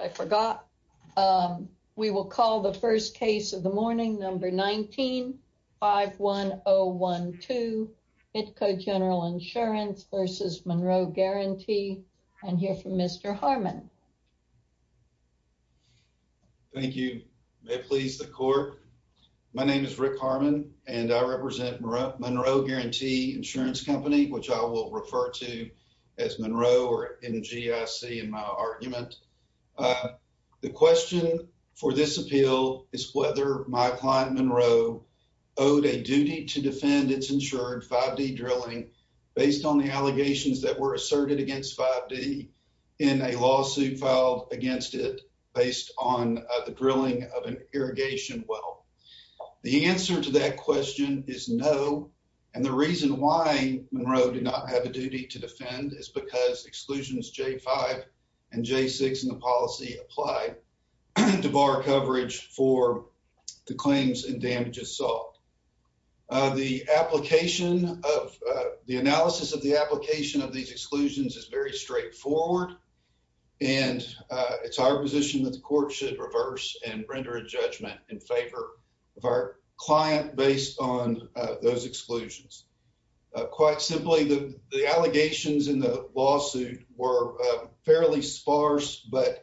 I forgot. We will call the first case of the morning, number 19-51012, BITCO General Insurance v. Monroe Guaranty, and hear from Mr. Harmon. Mr. Harmon. Thank you. May it please the court. My name is Rick Harmon, and I represent Monroe Guarantee Insurance Company, which I will refer to as Monroe or MGIC in my argument. The question for this appeal is whether my client, Monroe, owed a duty to defend its insured 5D drilling based on the allegations that were asserted against 5D in a lawsuit filed against it based on the drilling of an irrigation well. The answer to that question is no, and the reason why Monroe did not have a duty to defend is because exclusions J-5 and J-6 in the policy apply to bar coverage for the claims and damages solved. The application of the analysis of the application of these exclusions is very straightforward, and it's our position that the court should reverse and render a judgment in favor of our client based on those exclusions. Quite simply, the allegations in the lawsuit were fairly sparse, but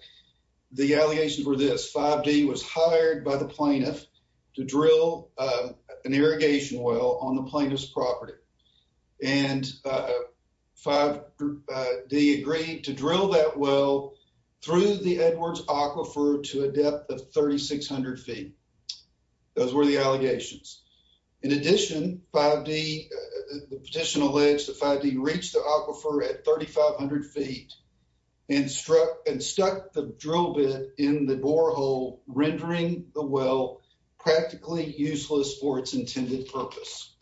the allegations were this. 5D was hired by the plaintiff to drill an irrigation well on the plaintiff's property, and 5D agreed to drill that well through the Edwards Aquifer to a depth of 3,600 feet. Those were the allegations. In addition, the petition alleged that 5D reached the aquifer at 3,500 feet and stuck the drill bit in the borehole, rendering the well practically useless for its intended purpose.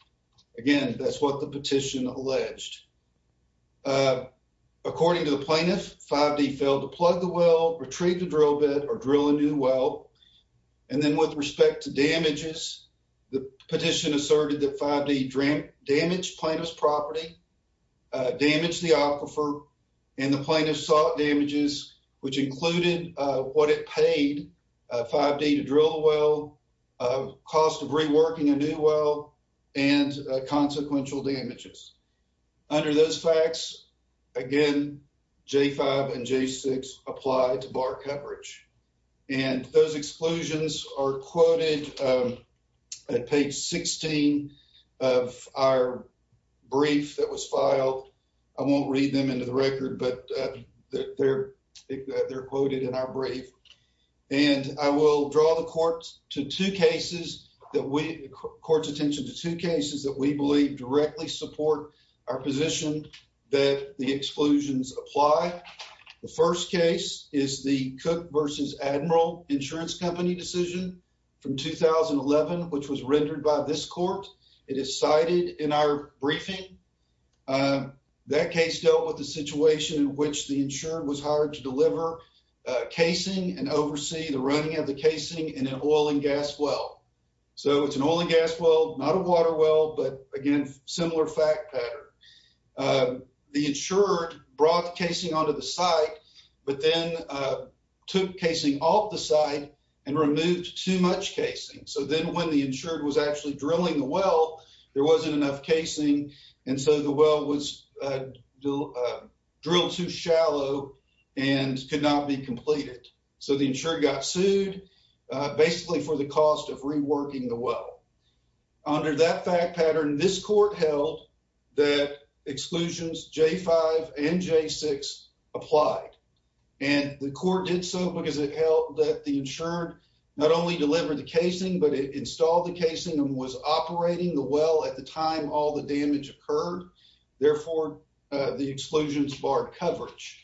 Again, that's what the petition alleged. According to the plaintiff, 5D failed to plug the well, retrieve the drill bit, or drill a new well, and then with respect to damages, the petition asserted that 5D damaged plaintiff's property, damaged the aquifer, and the plaintiff sought damages, which included what it paid 5D to drill the well, cost of reworking a new well, and consequential damages. Under those facts, again, J5 and J6 apply to bar coverage, and those exclusions are quoted at page 16 of our brief that was filed. I won't read them into the record, but they're quoted in our brief. And I will draw the court's attention to two cases that we believe directly support our position that the exclusions apply. The first case is the Cook v. Admiral Insurance Company decision from 2011, which was rendered by this court. It is cited in our briefing. That case dealt with the situation in which the insured was hired to deliver casing and oversee the running of the casing in an oil and gas well. So it's an oil and gas well, not a water well, but again, similar fact pattern. The insured brought the casing onto the site, but then took casing off the site and removed too much casing. So then when the insured was actually drilling the well, there wasn't enough casing, and so the well was drilled too shallow and could not be completed. So the insured got sued, basically for the cost of reworking the well. Under that fact pattern, this court held that exclusions J5 and J6 applied, and the court did so because it held that the insured not only delivered the casing, but it installed the casing and was operating the well at the time all the damage occurred. Therefore, the exclusions barred coverage.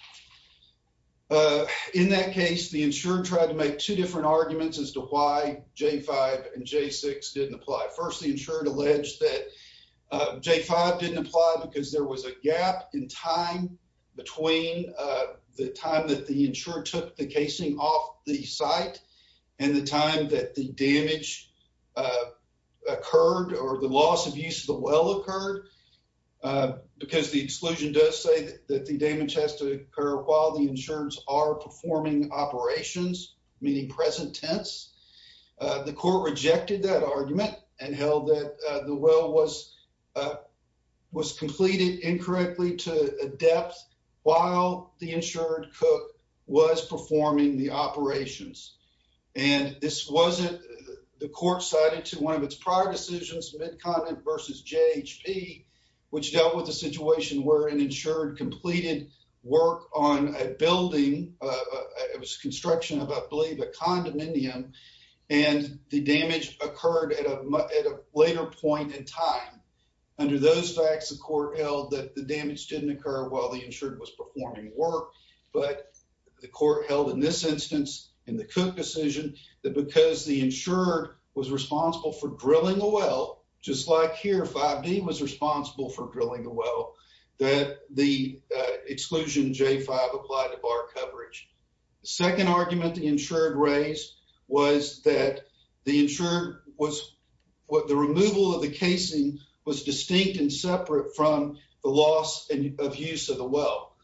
In that case, the insured tried to make two different arguments as to why J5 and J6 didn't apply. First, the insured alleged that J5 didn't apply because there was a gap in time between the time that the insured took the casing off the site and the time that the damage occurred or the loss of use of the well occurred. Because the exclusion does say that the damage has to occur while the insureds are performing operations, meaning present tense. The court rejected that argument and held that the well was completed incorrectly to a depth while the insured was performing the operations. And this wasn't, the court cited to one of its prior decisions, Mid-Continent versus JHP, which dealt with the situation where an insured completed work on a building, it was construction of I believe a condominium, and the damage occurred at a later point in time. Under those facts, the court held that the damage didn't occur while the insured was performing work, but the court held in this instance, in the Cook decision, that because the insured was responsible for drilling a well, just like here, 5D was responsible for drilling a well, that the exclusion J5 applied to bar coverage. The second argument the insured raised was that the insured was, the removal of the casing was distinct and separate from the loss of use of the well.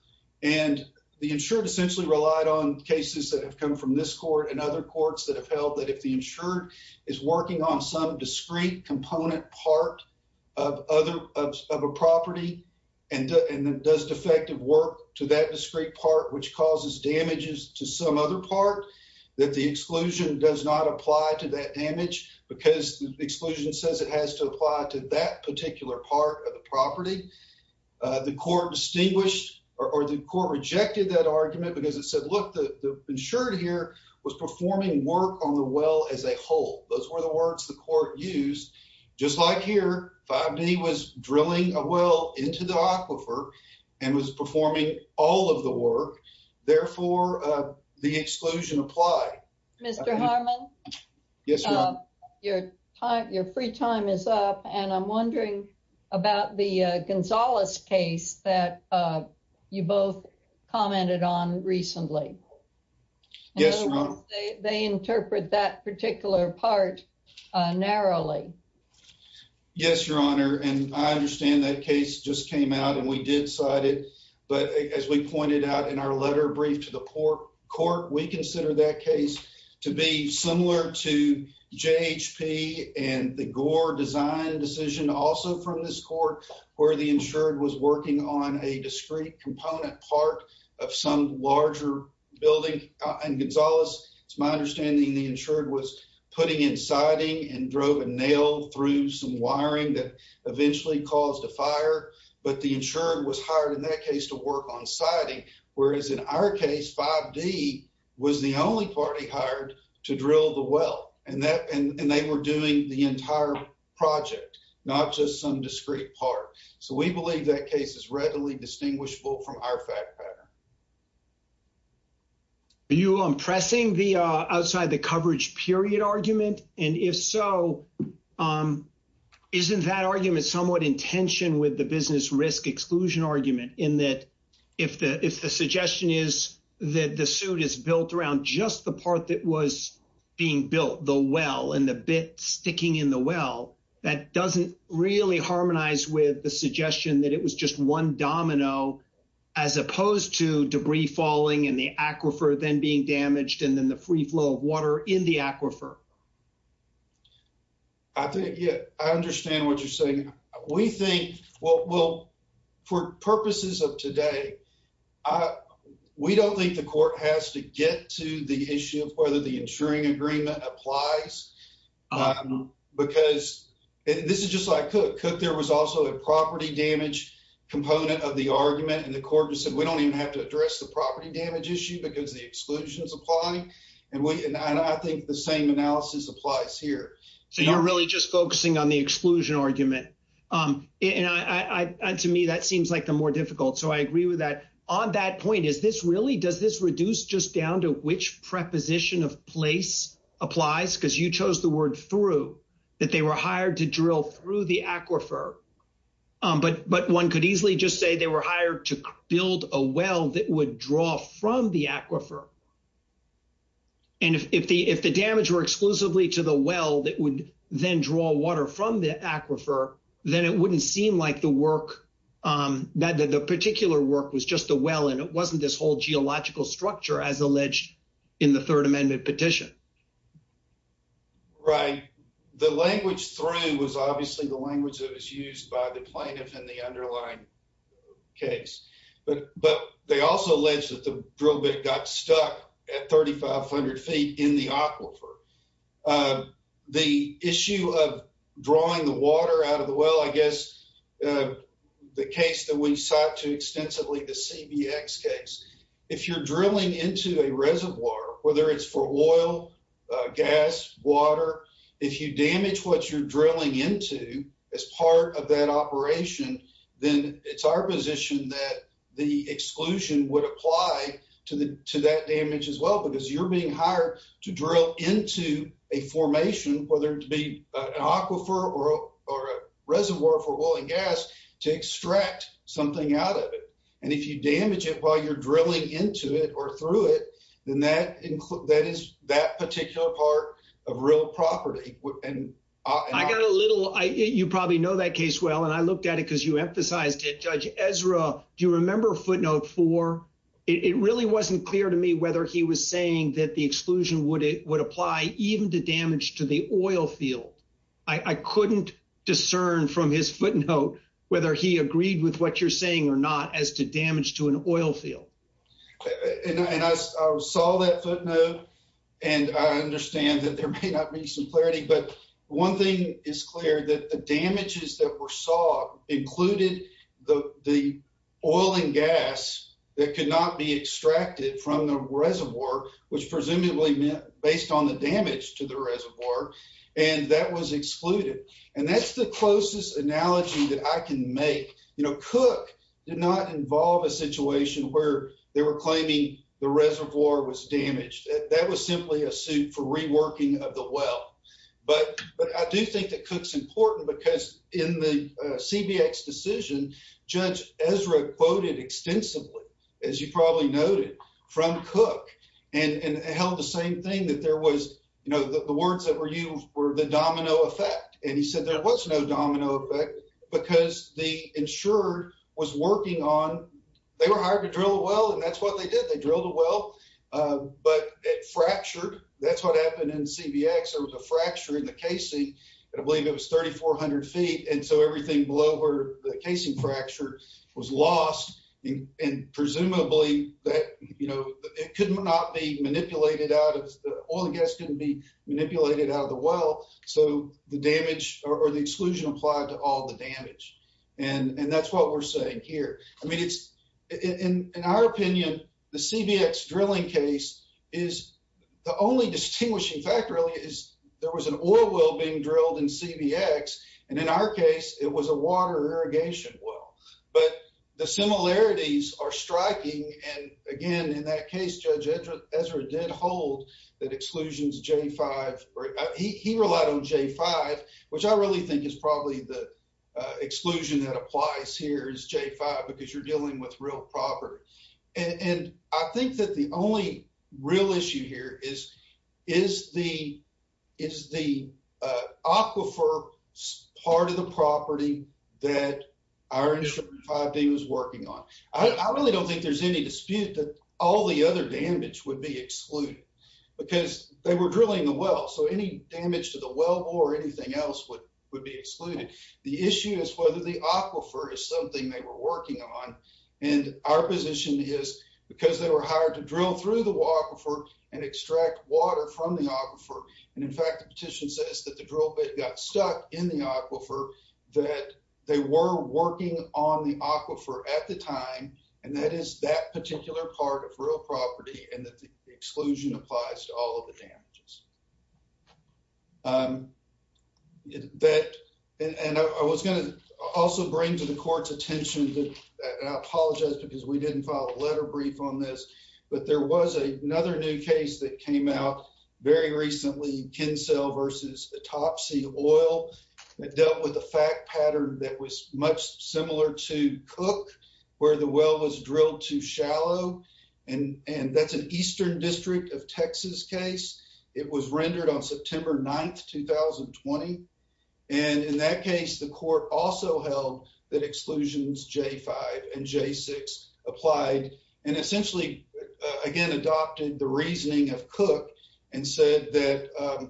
And the insured essentially relied on cases that have come from this court and other courts that have held that if the insured is working on some discrete component part of a property and does defective work to that discrete part, which causes damages to some other part, that the exclusion does not apply to that damage because the exclusion says it has to apply to that particular part of the property. The court distinguished, or the court rejected that argument because it said, look, the insured here was performing work on the well as a whole. Those were the words the court used. Just like here, 5D was drilling a well into the aquifer and was performing all of the work. Therefore, the exclusion applied. Mr. Harmon? Yes, Your Honor. Your free time is up, and I'm wondering about the Gonzales case that you both commented on recently. Yes, Your Honor. They interpret that particular part narrowly. Yes, Your Honor, and I understand that case just came out and we did cite it, but as we pointed out in our letter brief to the court, we consider that case to be similar to J.H.P. and the Gore design decision also from this court where the insured was working on a discrete component part of some larger building. And, Gonzales, it's my understanding the insured was putting in siding and drove a nail through some wiring that eventually caused a fire, but the insured was hired in that case to work on siding, whereas in our case, 5D was the only party hired to drill the well, and they were doing the entire project, not just some discrete part. So, we believe that case is readily distinguishable from our fact pattern. Are you pressing the outside-the-coverage-period argument? And if so, isn't that argument somewhat in tension with the business-risk-exclusion argument in that if the suggestion is that the suit is built around just the part that was being built, the well, and the bit sticking in the well, that doesn't really harmonize with the suggestion that it was just one domino as opposed to debris falling and the aquifer then being damaged and then the free flow of water in the aquifer? I think, yeah, I understand what you're saying. We think, well, for purposes of today, we don't think the court has to get to the issue of whether the insuring agreement applies, because this is just like Cook. But Cook, there was also a property damage component of the argument, and the court just said, we don't even have to address the property damage issue because the exclusion is applying, and I think the same analysis applies here. So, you're really just focusing on the exclusion argument. And to me, that seems like the more difficult, so I agree with that. On that point, is this really – does this reduce just down to which preposition of place applies? Because you chose the word through, that they were hired to drill through the aquifer, but one could easily just say they were hired to build a well that would draw from the aquifer. And if the damage were exclusively to the well that would then draw water from the aquifer, then it wouldn't seem like the work – that the particular work was just the well, and it wasn't this whole geological structure as alleged in the Third Amendment petition. Right. The language through was obviously the language that was used by the plaintiff in the underlying case. But they also alleged that the drill bit got stuck at 3,500 feet in the aquifer. The issue of drawing the water out of the well, I guess the case that we cite too extensively, the CBX case, if you're drilling into a reservoir, whether it's for oil, gas, water, if you damage what you're drilling into as part of that operation, then it's our position that the exclusion would apply to that damage as well. Because you're being hired to drill into a formation, whether it be an aquifer or a reservoir for oil and gas, to extract something out of it. And if you damage it while you're drilling into it or through it, then that is that particular part of real property. I got a little – you probably know that case well, and I looked at it because you emphasized it. Judge Ezra, do you remember footnote four? It really wasn't clear to me whether he was saying that the exclusion would apply even to damage to the oil field. I couldn't discern from his footnote whether he agreed with what you're saying or not as to damage to an oil field. And I saw that footnote, and I understand that there may not be some clarity. But one thing is clear, that the damages that were sought included the oil and gas that could not be extracted from the reservoir, which presumably meant based on the damage to the reservoir, and that was excluded. And that's the closest analogy that I can make. You know, Cook did not involve a situation where they were claiming the reservoir was damaged. That was simply a suit for reworking of the well. But I do think that Cook's important because in the CBX decision, Judge Ezra quoted extensively, as you probably noted, from Cook and held the same thing, that there was – you know, the words that were used were the domino effect. And he said there was no domino effect because the insurer was working on – they were hired to drill a well, and that's what they did. They drilled a well, but it fractured. That's what happened in the CBX. There was a fracture in the casing, and I believe it was 3,400 feet. And so everything below where the casing fracture was lost, and presumably that – you know, it could not be manipulated out of – the oil and gas couldn't be manipulated out of the well. So the damage – or the exclusion applied to all the damage. And that's what we're saying here. I mean, it's – in our opinion, the CBX drilling case is – the only distinguishing factor, really, is there was an oil well being drilled in CBX, and in our case, it was a water irrigation well. But the similarities are striking, and again, in that case, Judge Ezra did hold that exclusions J-5 – he relied on J-5, which I really think is probably the exclusion that applies here is J-5 because you're dealing with real property. And I think that the only real issue here is, is the aquifer part of the property that our industry 5D was working on. I really don't think there's any dispute that all the other damage would be excluded because they were drilling the well. So any damage to the well bore or anything else would be excluded. The issue is whether the aquifer is something they were working on, and our position is because they were hired to drill through the aquifer and extract water from the aquifer – and in fact, the petition says that the drill bit got stuck in the aquifer – that they were working on the aquifer at the time, and that is that particular part of real property, and that the exclusion applies to all of the damages. And I was going to also bring to the court's attention – and I apologize because we didn't file a letter brief on this – but there was another new case that came out very recently, Kinsel v. Topsy Oil, that dealt with a fact pattern that was much similar to Cook, where the well was drilled too shallow, and that's an eastern district of Texas case. It was rendered on September 9, 2020, and in that case, the court also held that exclusions J-5 and J-6 applied, and essentially, again, adopted the reasoning of Cook and said that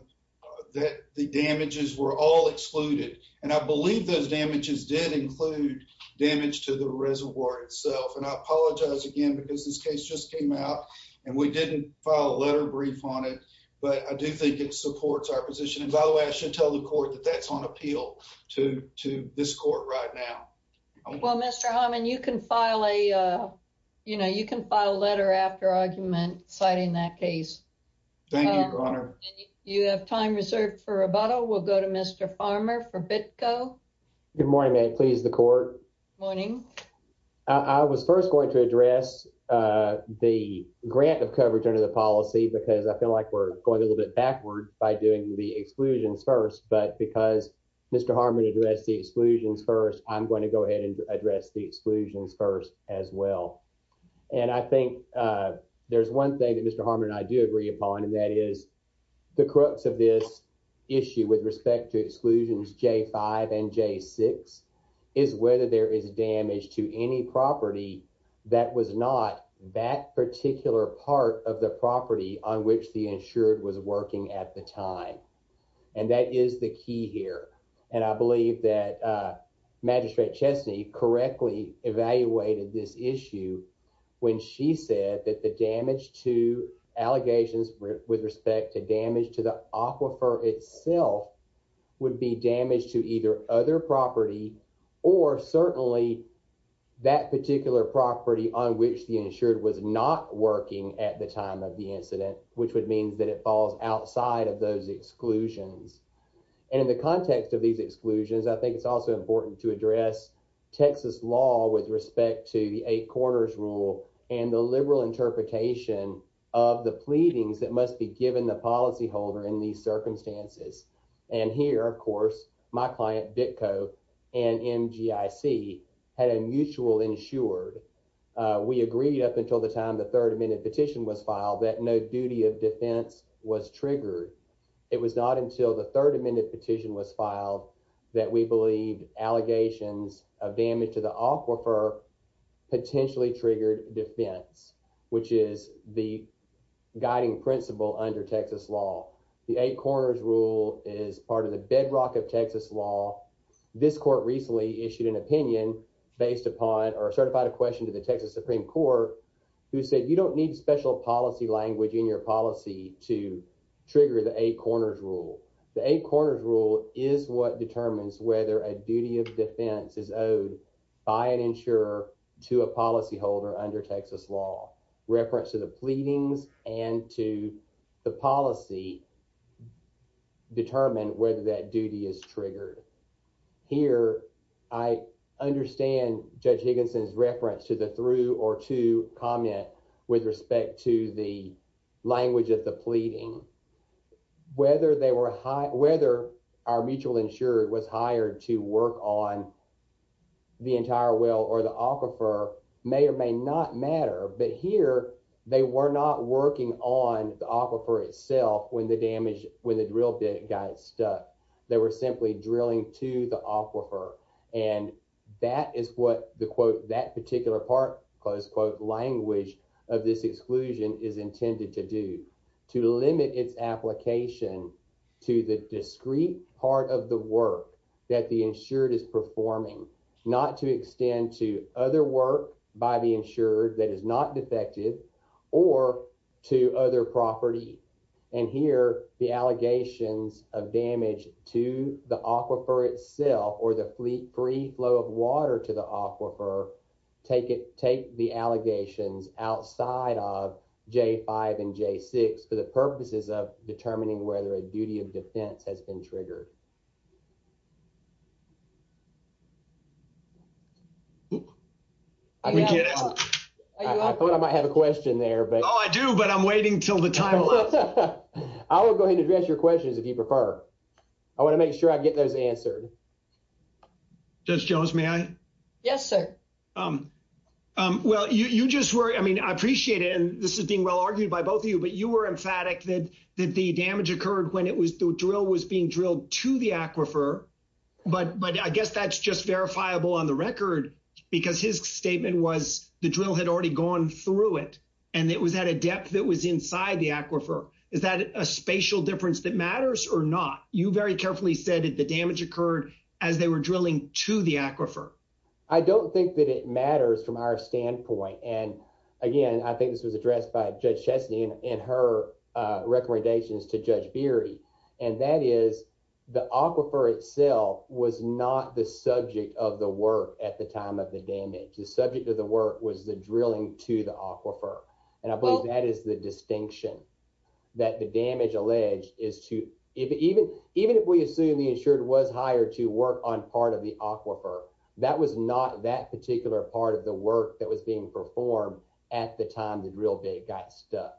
the damages were all excluded. And I believe those damages did include damage to the reservoir itself, and I apologize again because this case just came out, and we didn't file a letter brief on it, but I do think it supports our position. And by the way, I should tell the court that that's on appeal to this court right now. Well, Mr. Harmon, you can file a letter after argument citing that case. Thank you, Your Honor. You have time reserved for rebuttal. We'll go to Mr. Farmer for BITCO. Good morning, ma'am. Please, the court. Morning. I was first going to address the grant of coverage under the policy because I feel like we're going a little bit backward by doing the exclusions first, but because Mr. Harmon addressed the exclusions first, I'm going to go ahead and address the exclusions first as well. And I think there's one thing that Mr. Harmon and I do agree upon, and that is the crux of this issue with respect to exclusions J-5 and J-6 is whether there is damage to any property that was not that particular part of the property on which the insured was working at the time. And that is the key here, and I believe that Magistrate Chesney correctly evaluated this issue when she said that the damage to allegations with respect to damage to the aquifer itself would be damage to either other property or certainly that particular property on which the insured was not working at the time of the incident, which would mean that it falls outside of those exclusions. And in the context of these exclusions, I think it's also important to address Texas law with respect to the eight corners rule and the liberal interpretation of the pleadings that must be given the policyholder in these circumstances. And here, of course, my client Ditko and MGIC had a mutual insured. We agreed up until the time the third amendment petition was filed that no duty of defense was triggered. It was not until the third amendment petition was filed that we believed allegations of damage to the aquifer potentially triggered defense, which is the guiding principle under Texas law. The eight corners rule is part of the bedrock of Texas law. This court recently issued an opinion based upon or certified a question to the Texas Supreme Court who said you don't need special policy language in your policy to trigger the eight corners rule. The eight corners rule is what determines whether a duty of defense is owed by an insurer to a policyholder under Texas law reference to the pleadings and to the policy. Determine whether that duty is triggered here. I understand Judge Higginson's reference to the through or to comment with respect to the language of the pleading. Whether our mutual insured was hired to work on the entire well or the aquifer may or may not matter. But here, they were not working on the aquifer itself when the drill bit got stuck. They were simply drilling to the aquifer. And that is what the quote that particular part close quote language of this exclusion is intended to do to limit its application to the discrete part of the work that the insured is performing not to extend to other work by the insured that is not defective or to other property. And here, the allegations of damage to the aquifer itself or the fleet free flow of water to the aquifer. Take it. Take the allegations outside of J5 and J6 for the purposes of determining whether a duty of defense has been triggered. I thought I might have a question there, but I do, but I'm waiting till the time. I will go ahead and address your questions if you prefer. I want to make sure I get those answered. Judge Jones, may I? Yes, sir. Well, you just worry. I mean, I appreciate it. And this is being well argued by both of you. But you were emphatic that the damage occurred when it was the drill was being drilled to the aquifer. But but I guess that's just verifiable on the record because his statement was the drill had already gone through it. And it was at a depth that was inside the aquifer. Is that a spatial difference that matters or not? You very carefully said that the damage occurred as they were drilling to the aquifer. I don't think that it matters from our standpoint. And again, I think this was addressed by Judge Chesney in her recommendations to Judge Beery. And that is the aquifer itself was not the subject of the work at the time of the damage. The subject of the work was the drilling to the aquifer. And I believe that is the distinction that the damage alleged is to even even if we assume the insured was hired to work on part of the aquifer. That was not that particular part of the work that was being performed at the time the drill bit got stuck.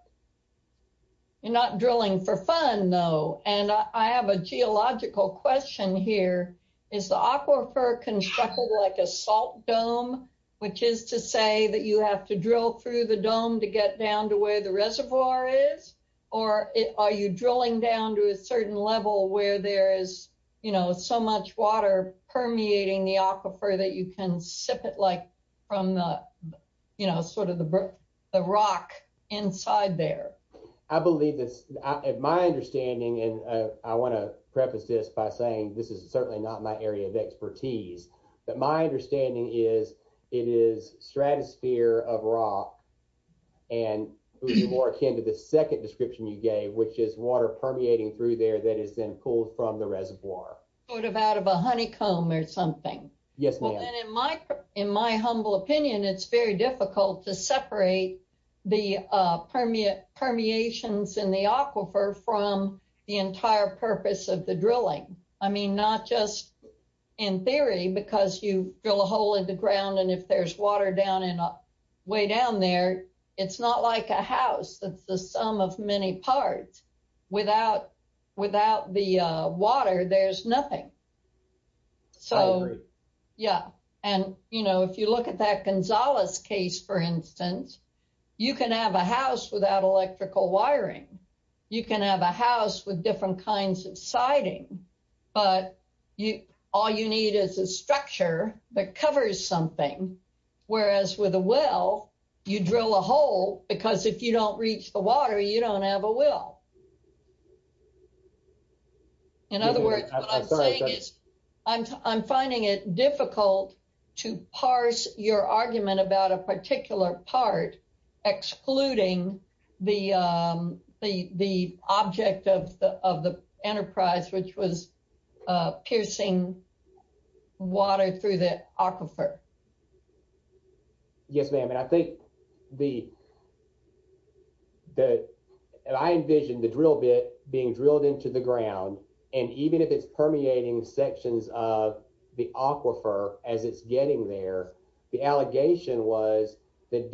You're not drilling for fun, though. And I have a geological question here. Is the aquifer constructed like a salt dome, which is to say that you have to drill through the dome to get down to where the reservoir is? Or are you drilling down to a certain level where there is, you know, so much water permeating the aquifer that you can sip it like from, you know, sort of the rock inside there? I believe this is my understanding. And I want to preface this by saying this is certainly not my area of expertise. But my understanding is it is stratosphere of rock and more akin to the second description you gave, which is water permeating through there that is then pulled from the reservoir. Sort of out of a honeycomb or something. Yes, ma'am. In my humble opinion, it's very difficult to separate the permeate permeations in the aquifer from the entire purpose of the drilling. I mean, not just in theory, because you drill a hole in the ground. And if there's water way down there, it's not like a house. It's the sum of many parts. Without the water, there's nothing. I agree. Yeah. And, you know, if you look at that Gonzales case, for instance, you can have a house without electrical wiring. You can have a house with different kinds of siding. But all you need is a structure that covers something. Whereas with a well, you drill a hole, because if you don't reach the water, you don't have a well. In other words, what I'm saying is I'm finding it difficult to parse your argument about a particular part, excluding the object of the enterprise, which was piercing water through the aquifer. Yes, ma'am. And I think that I envisioned the drill bit being drilled into the ground. And even if it's permeating sections of the aquifer as it's getting there, the allegation was the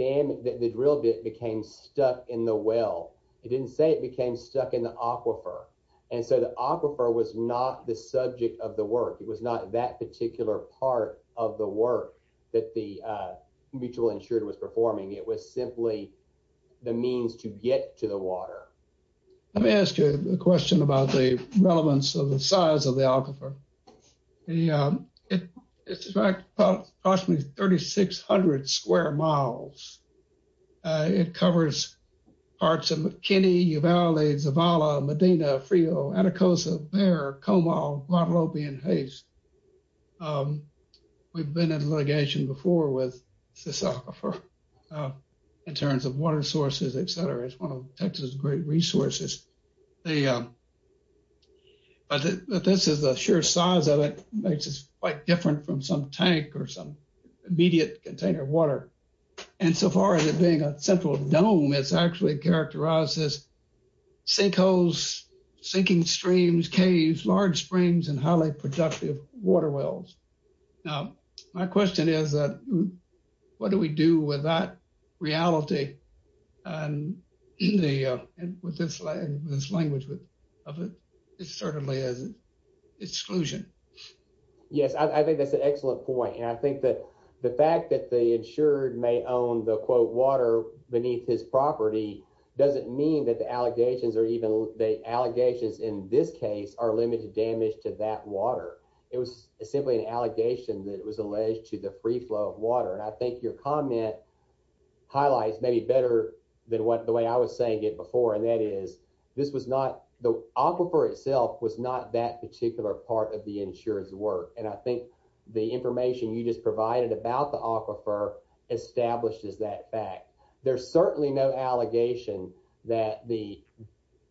drill bit became stuck in the well. It didn't say it became stuck in the aquifer. And so the aquifer was not the subject of the work. It was not that particular part of the work. That the mutual insured was performing. It was simply the means to get to the water. Let me ask you a question about the relevance of the size of the aquifer. It's approximately 3,600 square miles. It covers parts of McKinney, Uvalde, Zavala, Medina, Frio, Anacostia, Bear, Comal, Guadalupe, and Haste. We've been in litigation before with this aquifer in terms of water sources, et cetera. It's one of Texas' great resources. But this is the sheer size of it makes it quite different from some tank or some immediate container of water. And so far as it being a central dome, it's actually characterized as sinkholes, sinking streams, caves, large springs, and highly productive water wells. Now, my question is, what do we do with that reality? And with this language, it certainly is exclusion. Yes, I think that's an excellent point. And I think that the fact that the insured may own the, quote, water beneath his property doesn't mean that the allegations in this case are limited damage to that water. It was simply an allegation that it was alleged to the free flow of water. And I think your comment highlights maybe better than the way I was saying it before. And that is, the aquifer itself was not that particular part of the insured's work. And I think the information you just provided about the aquifer establishes that fact. There's certainly no allegation that the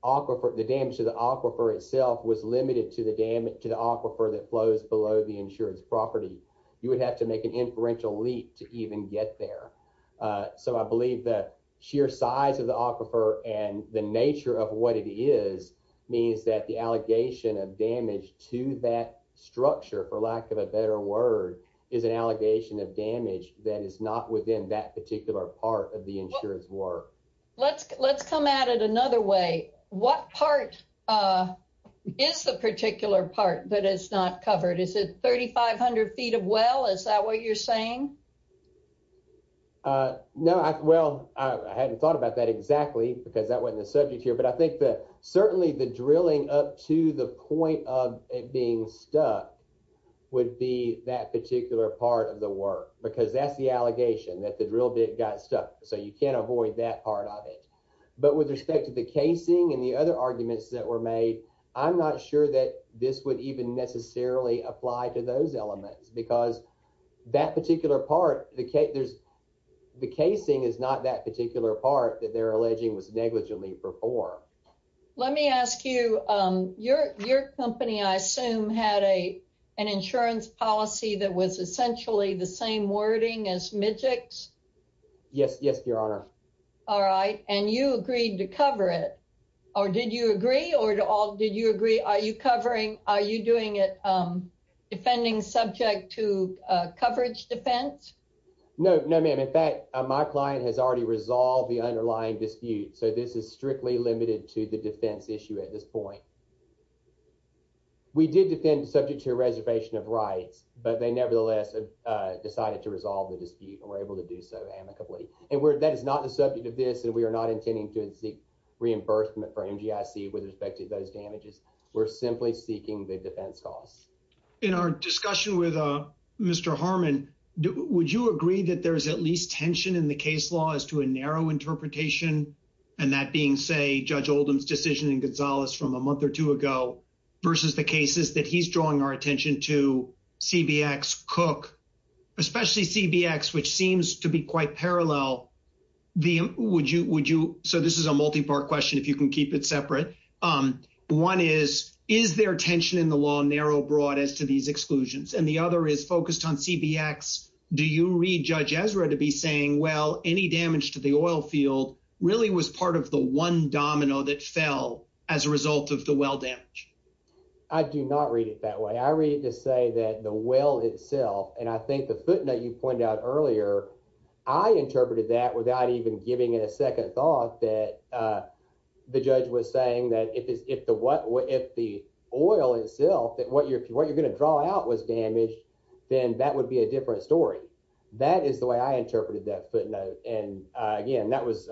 damage to the aquifer itself was limited to the aquifer that flows below the insured's property. You would have to make an inferential leap to even get there. So I believe that sheer size of the aquifer and the nature of what it is means that the allegation of damage to that structure, for lack of a better word, is an allegation of damage that is not within that particular part of the insured's work. Let's come at it another way. What part is the particular part that is not covered? Is it 3,500 feet of well? Is that what you're saying? No, well, I hadn't thought about that exactly because that wasn't the subject here. But I think that certainly the drilling up to the point of it being stuck would be that particular part of the work. Because that's the allegation, that the drill bit got stuck. So you can't avoid that part of it. But with respect to the casing and the other arguments that were made, I'm not sure that this would even necessarily apply to those elements. Because that particular part, the casing is not that particular part that they're alleging was negligently performed. Let me ask you. Your company, I assume, had an insurance policy that was essentially the same wording as Mijic's? Yes, yes, Your Honor. All right. And you agreed to cover it. Or did you agree? Are you doing it defending subject to coverage defense? No, no, ma'am. In fact, my client has already resolved the underlying dispute. So this is strictly limited to the defense issue at this point. We did defend subject to a reservation of rights. But they nevertheless decided to resolve the dispute and were able to do so amicably. And that is not the subject of this, and we are not intending to seek reimbursement for MGIC with respect to those damages. We're simply seeking the defense costs. In our discussion with Mr. Harmon, would you agree that there is at least tension in the case law as to a narrow interpretation? And that being, say, Judge Oldham's decision in Gonzales from a month or two ago versus the cases that he's drawing our attention to, CBX, Cook, especially CBX, which seems to be quite parallel. Would you? Would you? So this is a multi-part question, if you can keep it separate. One is, is there tension in the law narrow, broad as to these exclusions? And the other is focused on CBX. Do you read Judge Ezra to be saying, well, any damage to the oil field really was part of the one domino that fell as a result of the well damage? I do not read it that way. I read it to say that the well itself, and I think the footnote you pointed out earlier, I interpreted that without even giving it a second thought, that the judge was saying that if the oil itself, that what you're going to draw out was damaged, then that would be a different story. That is the way I interpreted that footnote. And again, that was,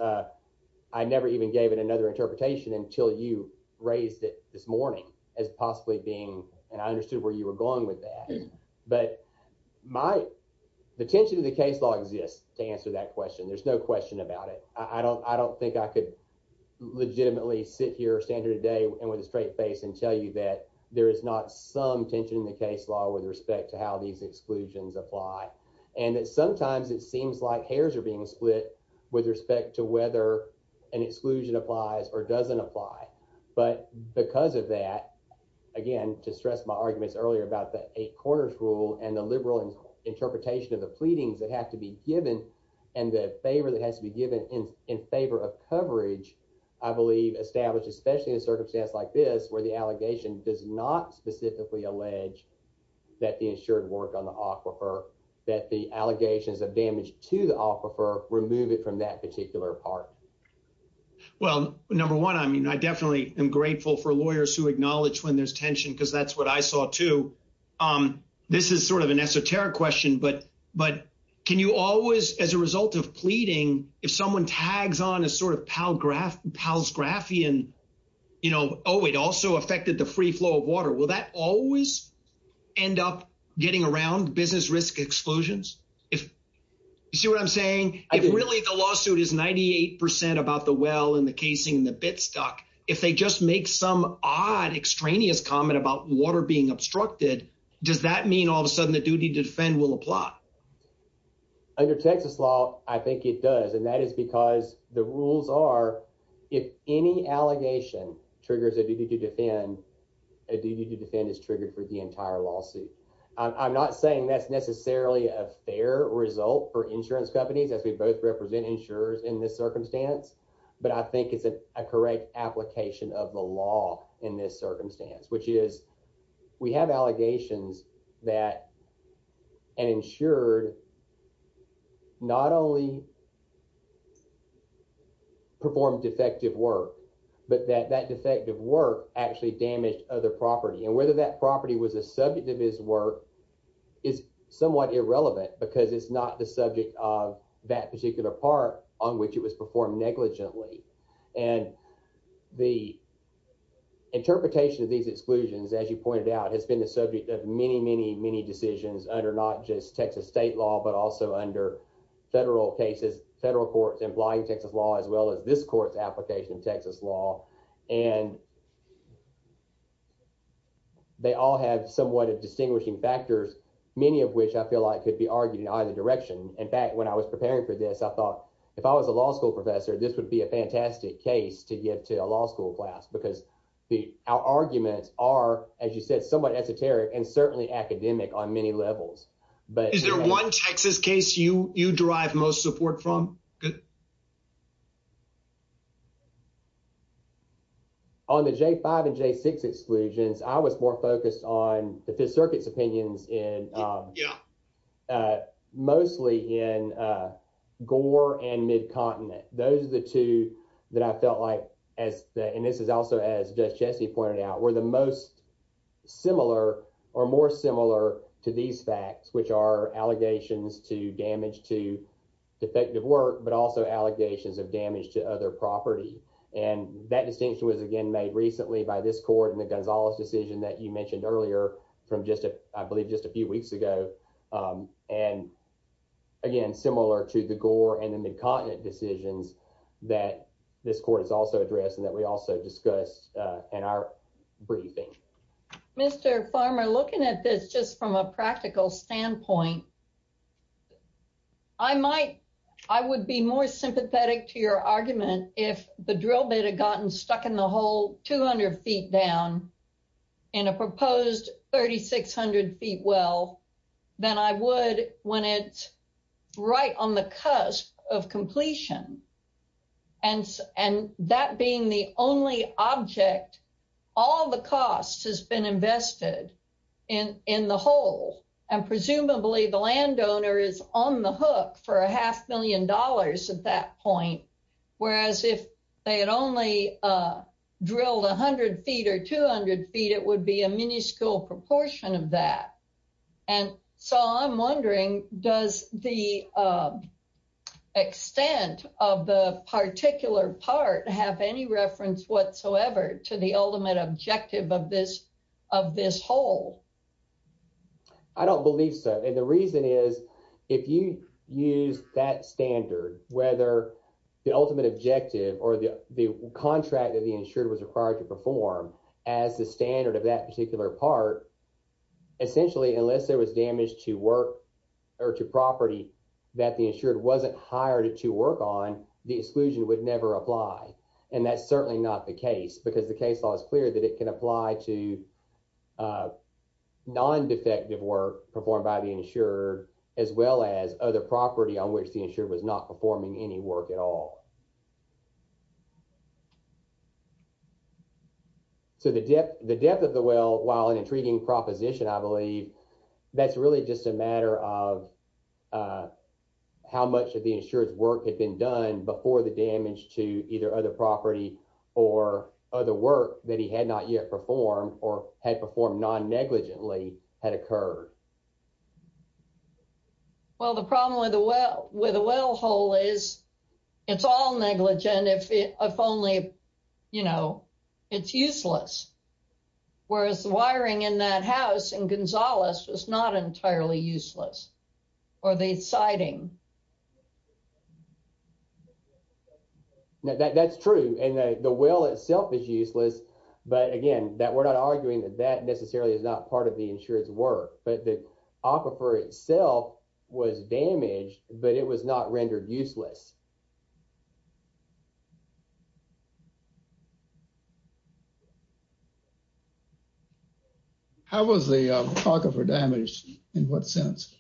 I never even gave it another interpretation until you raised it this morning as possibly being, and I understood where you were going with that. But my, the tension in the case law exists to answer that question. There's no question about it. I don't, I don't think I could legitimately sit here, stand here today and with a straight face and tell you that there is not some tension in the case law with respect to how these exclusions apply. And that sometimes it seems like hairs are being split with respect to whether an exclusion applies or doesn't apply. But because of that, again, to stress my arguments earlier about the eight corners rule and the liberal interpretation of the pleadings that have to be given, and the favor that has to be given in favor of coverage, I believe established, especially in a circumstance like this, where the allegation does not specifically allege that the ensured work on the aquifer, that the allegations of damage to the aquifer remove it from that particular part. Well, number one, I mean, I definitely am grateful for lawyers who acknowledge when there's tension, because that's what I saw too. This is sort of an esoteric question, but, but can you always, as a result of pleading, if someone tags on a sort of pal graph, pals graphian, you know, oh, it also affected the free flow of water. Will that always end up getting around business risk exclusions? You see what I'm saying? If really the lawsuit is 98% about the well and the casing and the bit stuck, if they just make some odd extraneous comment about water being obstructed, does that mean all of a sudden the duty to defend will apply? Under Texas law, I think it does. And that is because the rules are, if any allegation triggers a duty to defend, a duty to defend is triggered for the entire lawsuit. I'm not saying that's necessarily a fair result for insurance companies, as we both represent insurers in this circumstance. But I think it's a correct application of the law in this circumstance, which is we have allegations that an insured not only performed defective work, but that that defective work actually damaged other property. And whether that property was a subject of his work is somewhat irrelevant because it's not the subject of that particular part on which it was performed negligently. And the interpretation of these exclusions, as you pointed out, has been the subject of many, many, many decisions under not just Texas state law, but also under federal cases, federal courts implying Texas law, as well as this court's application of Texas law. And they all have somewhat of distinguishing factors, many of which I feel like could be argued in either direction. In fact, when I was preparing for this, I thought if I was a law school professor, this would be a fantastic case to get to a law school class because our arguments are, as you said, somewhat esoteric and certainly academic on many levels. Is there one Texas case you derive most support from? Good. On the J-5 and J-6 exclusions, I was more focused on the Fifth Circuit's opinions mostly in Gore and Mid-Continent. Those are the two that I felt like, and this is also as Judge Chesney pointed out, were the most similar or more similar to these facts, which are allegations to damage to defective work, but also allegations of damage to other property. And that distinction was again made recently by this court and the Gonzalez decision that you mentioned earlier from just, I believe, just a few weeks ago. And again, similar to the Gore and the Mid-Continent decisions that this court has also addressed and that we also discussed in our briefing. Mr. Farmer, looking at this just from a practical standpoint, I would be more sympathetic to your argument if the drill bit had gotten stuck in the hole 200 feet down in a proposed 3,600 feet well than I would when it's right on the cusp of completion. And that being the only object, all the cost has been invested in the hole. And presumably the landowner is on the hook for a half million dollars at that point, whereas if they had only drilled 100 feet or 200 feet, it would be a minuscule proportion of that. And so I'm wondering, does the extent of the particular part have any reference whatsoever to the ultimate objective of this hole? I don't believe so. And the reason is if you use that standard, whether the ultimate objective or the contract that the insured was required to perform as the standard of that particular part, essentially, unless there was damage to work or to property that the insured wasn't hired to work on, the exclusion would never apply. And that's certainly not the case because the case law is clear that it can apply to non-defective work performed by the insured as well as other property on which the insured was not performing any work at all. So the depth of the well, while an intriguing proposition, I believe, that's really just a matter of how much of the insured's work had been done before the damage to either other property or other work that he had not yet performed or had performed non-negligently had occurred. Well, the problem with a well hole is it's all negligent if only, you know, it's useless, whereas the wiring in that house in Gonzales was not entirely useless or the siding. That's true. And the well itself is useless. But again, we're not arguing that that necessarily is not part of the insured's work. But the aquifer itself was damaged, but it was not rendered useless. How was the aquifer damaged? In what sense?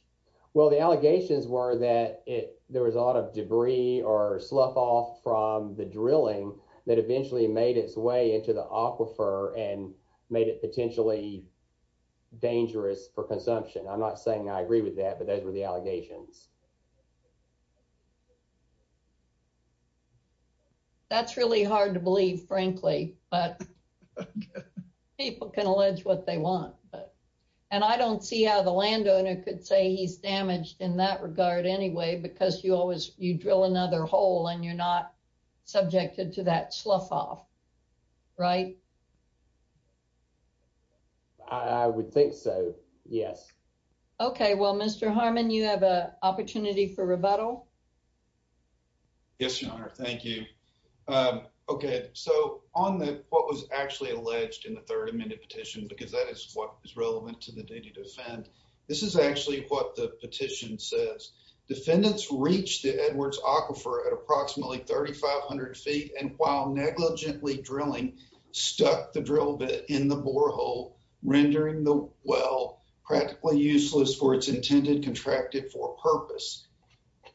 Well, the allegations were that there was a lot of debris or slough off from the drilling that eventually made its way into the aquifer and made it potentially dangerous for consumption. I'm not saying I agree with that, but those were the allegations. That's really hard to believe, frankly, but people can allege what they want. And I don't see how the landowner could say he's damaged in that regard anyway, because you always, you drill another hole and you're not subjected to that slough off. Right? I would think so. Yes. OK, well, Mr. Harmon, you have an opportunity for rebuttal. Yes, Your Honor. Thank you. OK, so on what was actually alleged in the third amended petition, because that is what is relevant to the duty to defend, this is actually what the petition says. Defendants reached the Edwards Aquifer at approximately 3,500 feet and while negligently drilling, stuck the drill bit in the borehole, rendering the well practically useless for its intended contracted for purpose.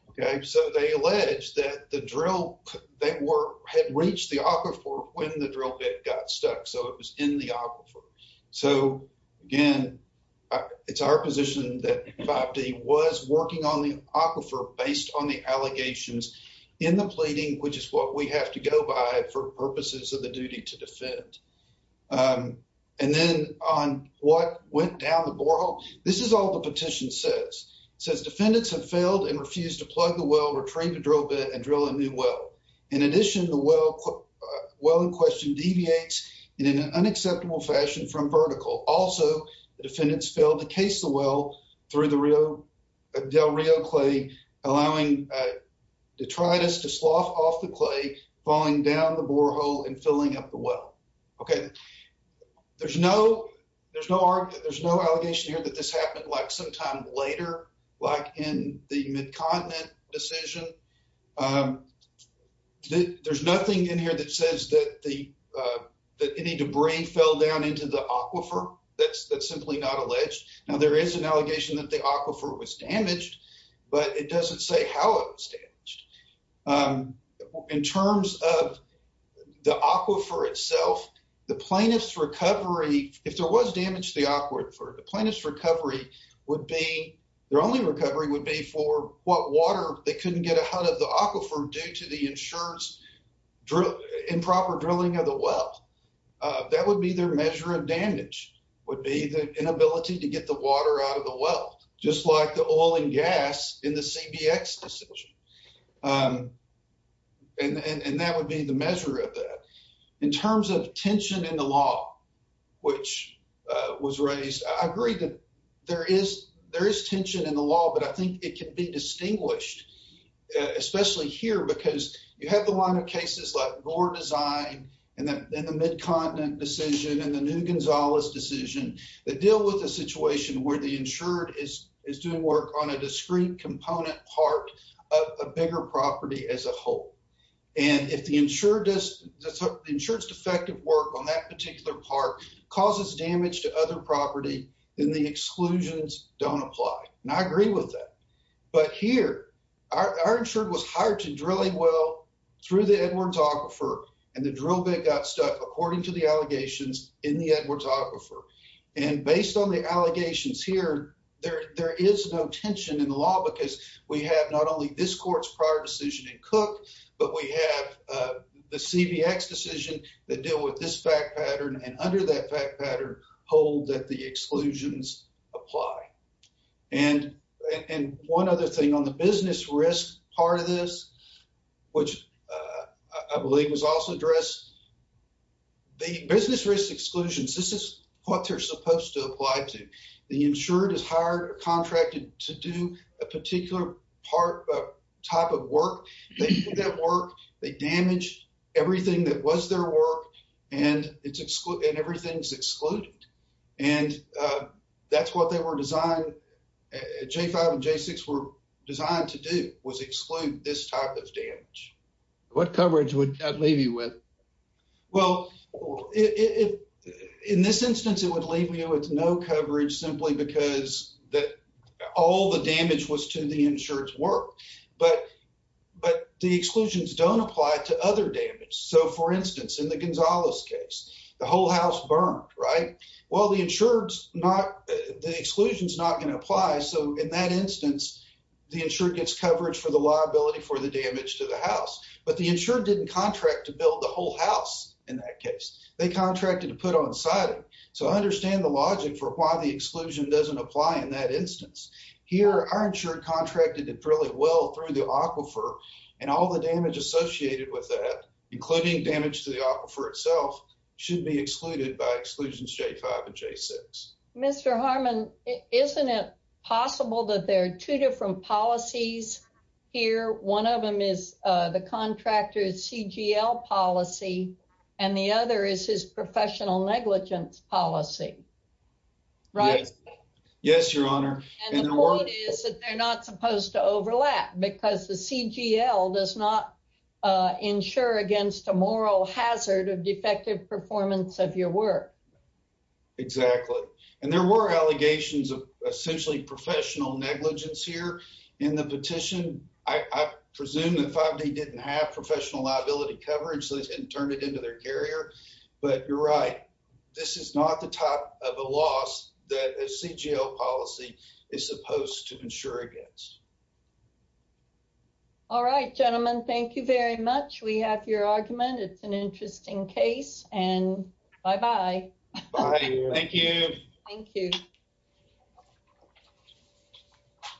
OK, so they allege that the drill that had reached the aquifer when the drill bit got stuck. So it was in the aquifer. So again, it's our position that 5D was working on the aquifer based on the allegations in the pleading, which is what we have to go by for purposes of the duty to defend. And then on what went down the borehole, this is all the petition says. It says defendants have failed and refused to plug the well, retrieve the drill bit and drill a new well. In addition, the well in question deviates in an unacceptable fashion from vertical. Also, the defendants failed to case the well through the Del Rio clay, allowing detritus to slough off the clay, falling down the borehole and filling up the well. OK, there's no, there's no, there's no allegation here that this happened like sometime later, like in the Mid-Continent decision. There's nothing in here that says that any debris fell down into the aquifer. That's simply not alleged. Now there is an allegation that the aquifer was damaged, but it doesn't say how it was damaged. In terms of the aquifer itself, the plaintiff's recovery, if there was damage to the aquifer, the plaintiff's recovery would be, their only recovery would be for what water they couldn't get out of the aquifer due to the insurer's improper drilling of the well. That would be their measure of damage, would be the inability to get the water out of the well, just like the oil and gas in the CBX decision. And that would be the measure of that. In terms of tension in the law, which was raised, I agree that there is, there is tension in the law, but I think it can be distinguished, especially here, because you have the line of cases like Gore Design and the Mid-Continent decision and the New Gonzales decision, that deal with the situation where the insured is doing work on a discrete component part of a bigger property as a whole. And if the insured does, the insured's defective work on that particular part causes damage to other property, then the exclusions don't apply. And I agree with that. But here, our insured was hired to drill a well through the Edwards Aquifer, and the drill bit got stuck, according to the allegations in the Edwards Aquifer. And based on the allegations here, there is no tension in the law, because we have not only this court's prior decision in Cook, but we have the CBX decision that deal with this fact pattern, and under that fact pattern, hold that the exclusions apply. And one other thing on the business risk part of this, which I believe was also addressed, the business risk exclusions, this is what they're supposed to apply to. The insured is hired or contracted to do a particular type of work. They do that work, they damage everything that was their work, and everything's excluded. And that's what they were designed, J5 and J6 were designed to do, was exclude this type of damage. What coverage would that leave you with? Well, in this instance, it would leave you with no coverage, simply because all the damage was to the insured's work. But the exclusions don't apply to other damage. So, for instance, in the Gonzalez case, the whole house burned, right? Well, the insured's not, the exclusion's not going to apply, so in that instance, the insured gets coverage for the liability for the damage to the house. But the insured didn't contract to build the whole house in that case. They contracted to put on siding. So, I understand the logic for why the exclusion doesn't apply in that instance. Here, our insured contracted it fairly well through the aquifer, and all the damage associated with that, including damage to the aquifer itself, should be excluded by exclusions J5 and J6. Mr. Harmon, isn't it possible that there are two different policies here? One of them is the contractor's CGL policy, and the other is his professional negligence policy, right? Yes, Your Honor. And the point is that they're not supposed to overlap, because the CGL does not insure against a moral hazard of defective performance of your work. Exactly. And there were allegations of essentially professional negligence here in the petition. I presume that 5D didn't have professional liability coverage, so they didn't turn it into their carrier, but you're right. This is not the type of a loss that a CGL policy is supposed to insure against. All right, gentlemen. Thank you very much. We have your argument. It's an interesting case, and bye-bye. Bye. Thank you. Thank you.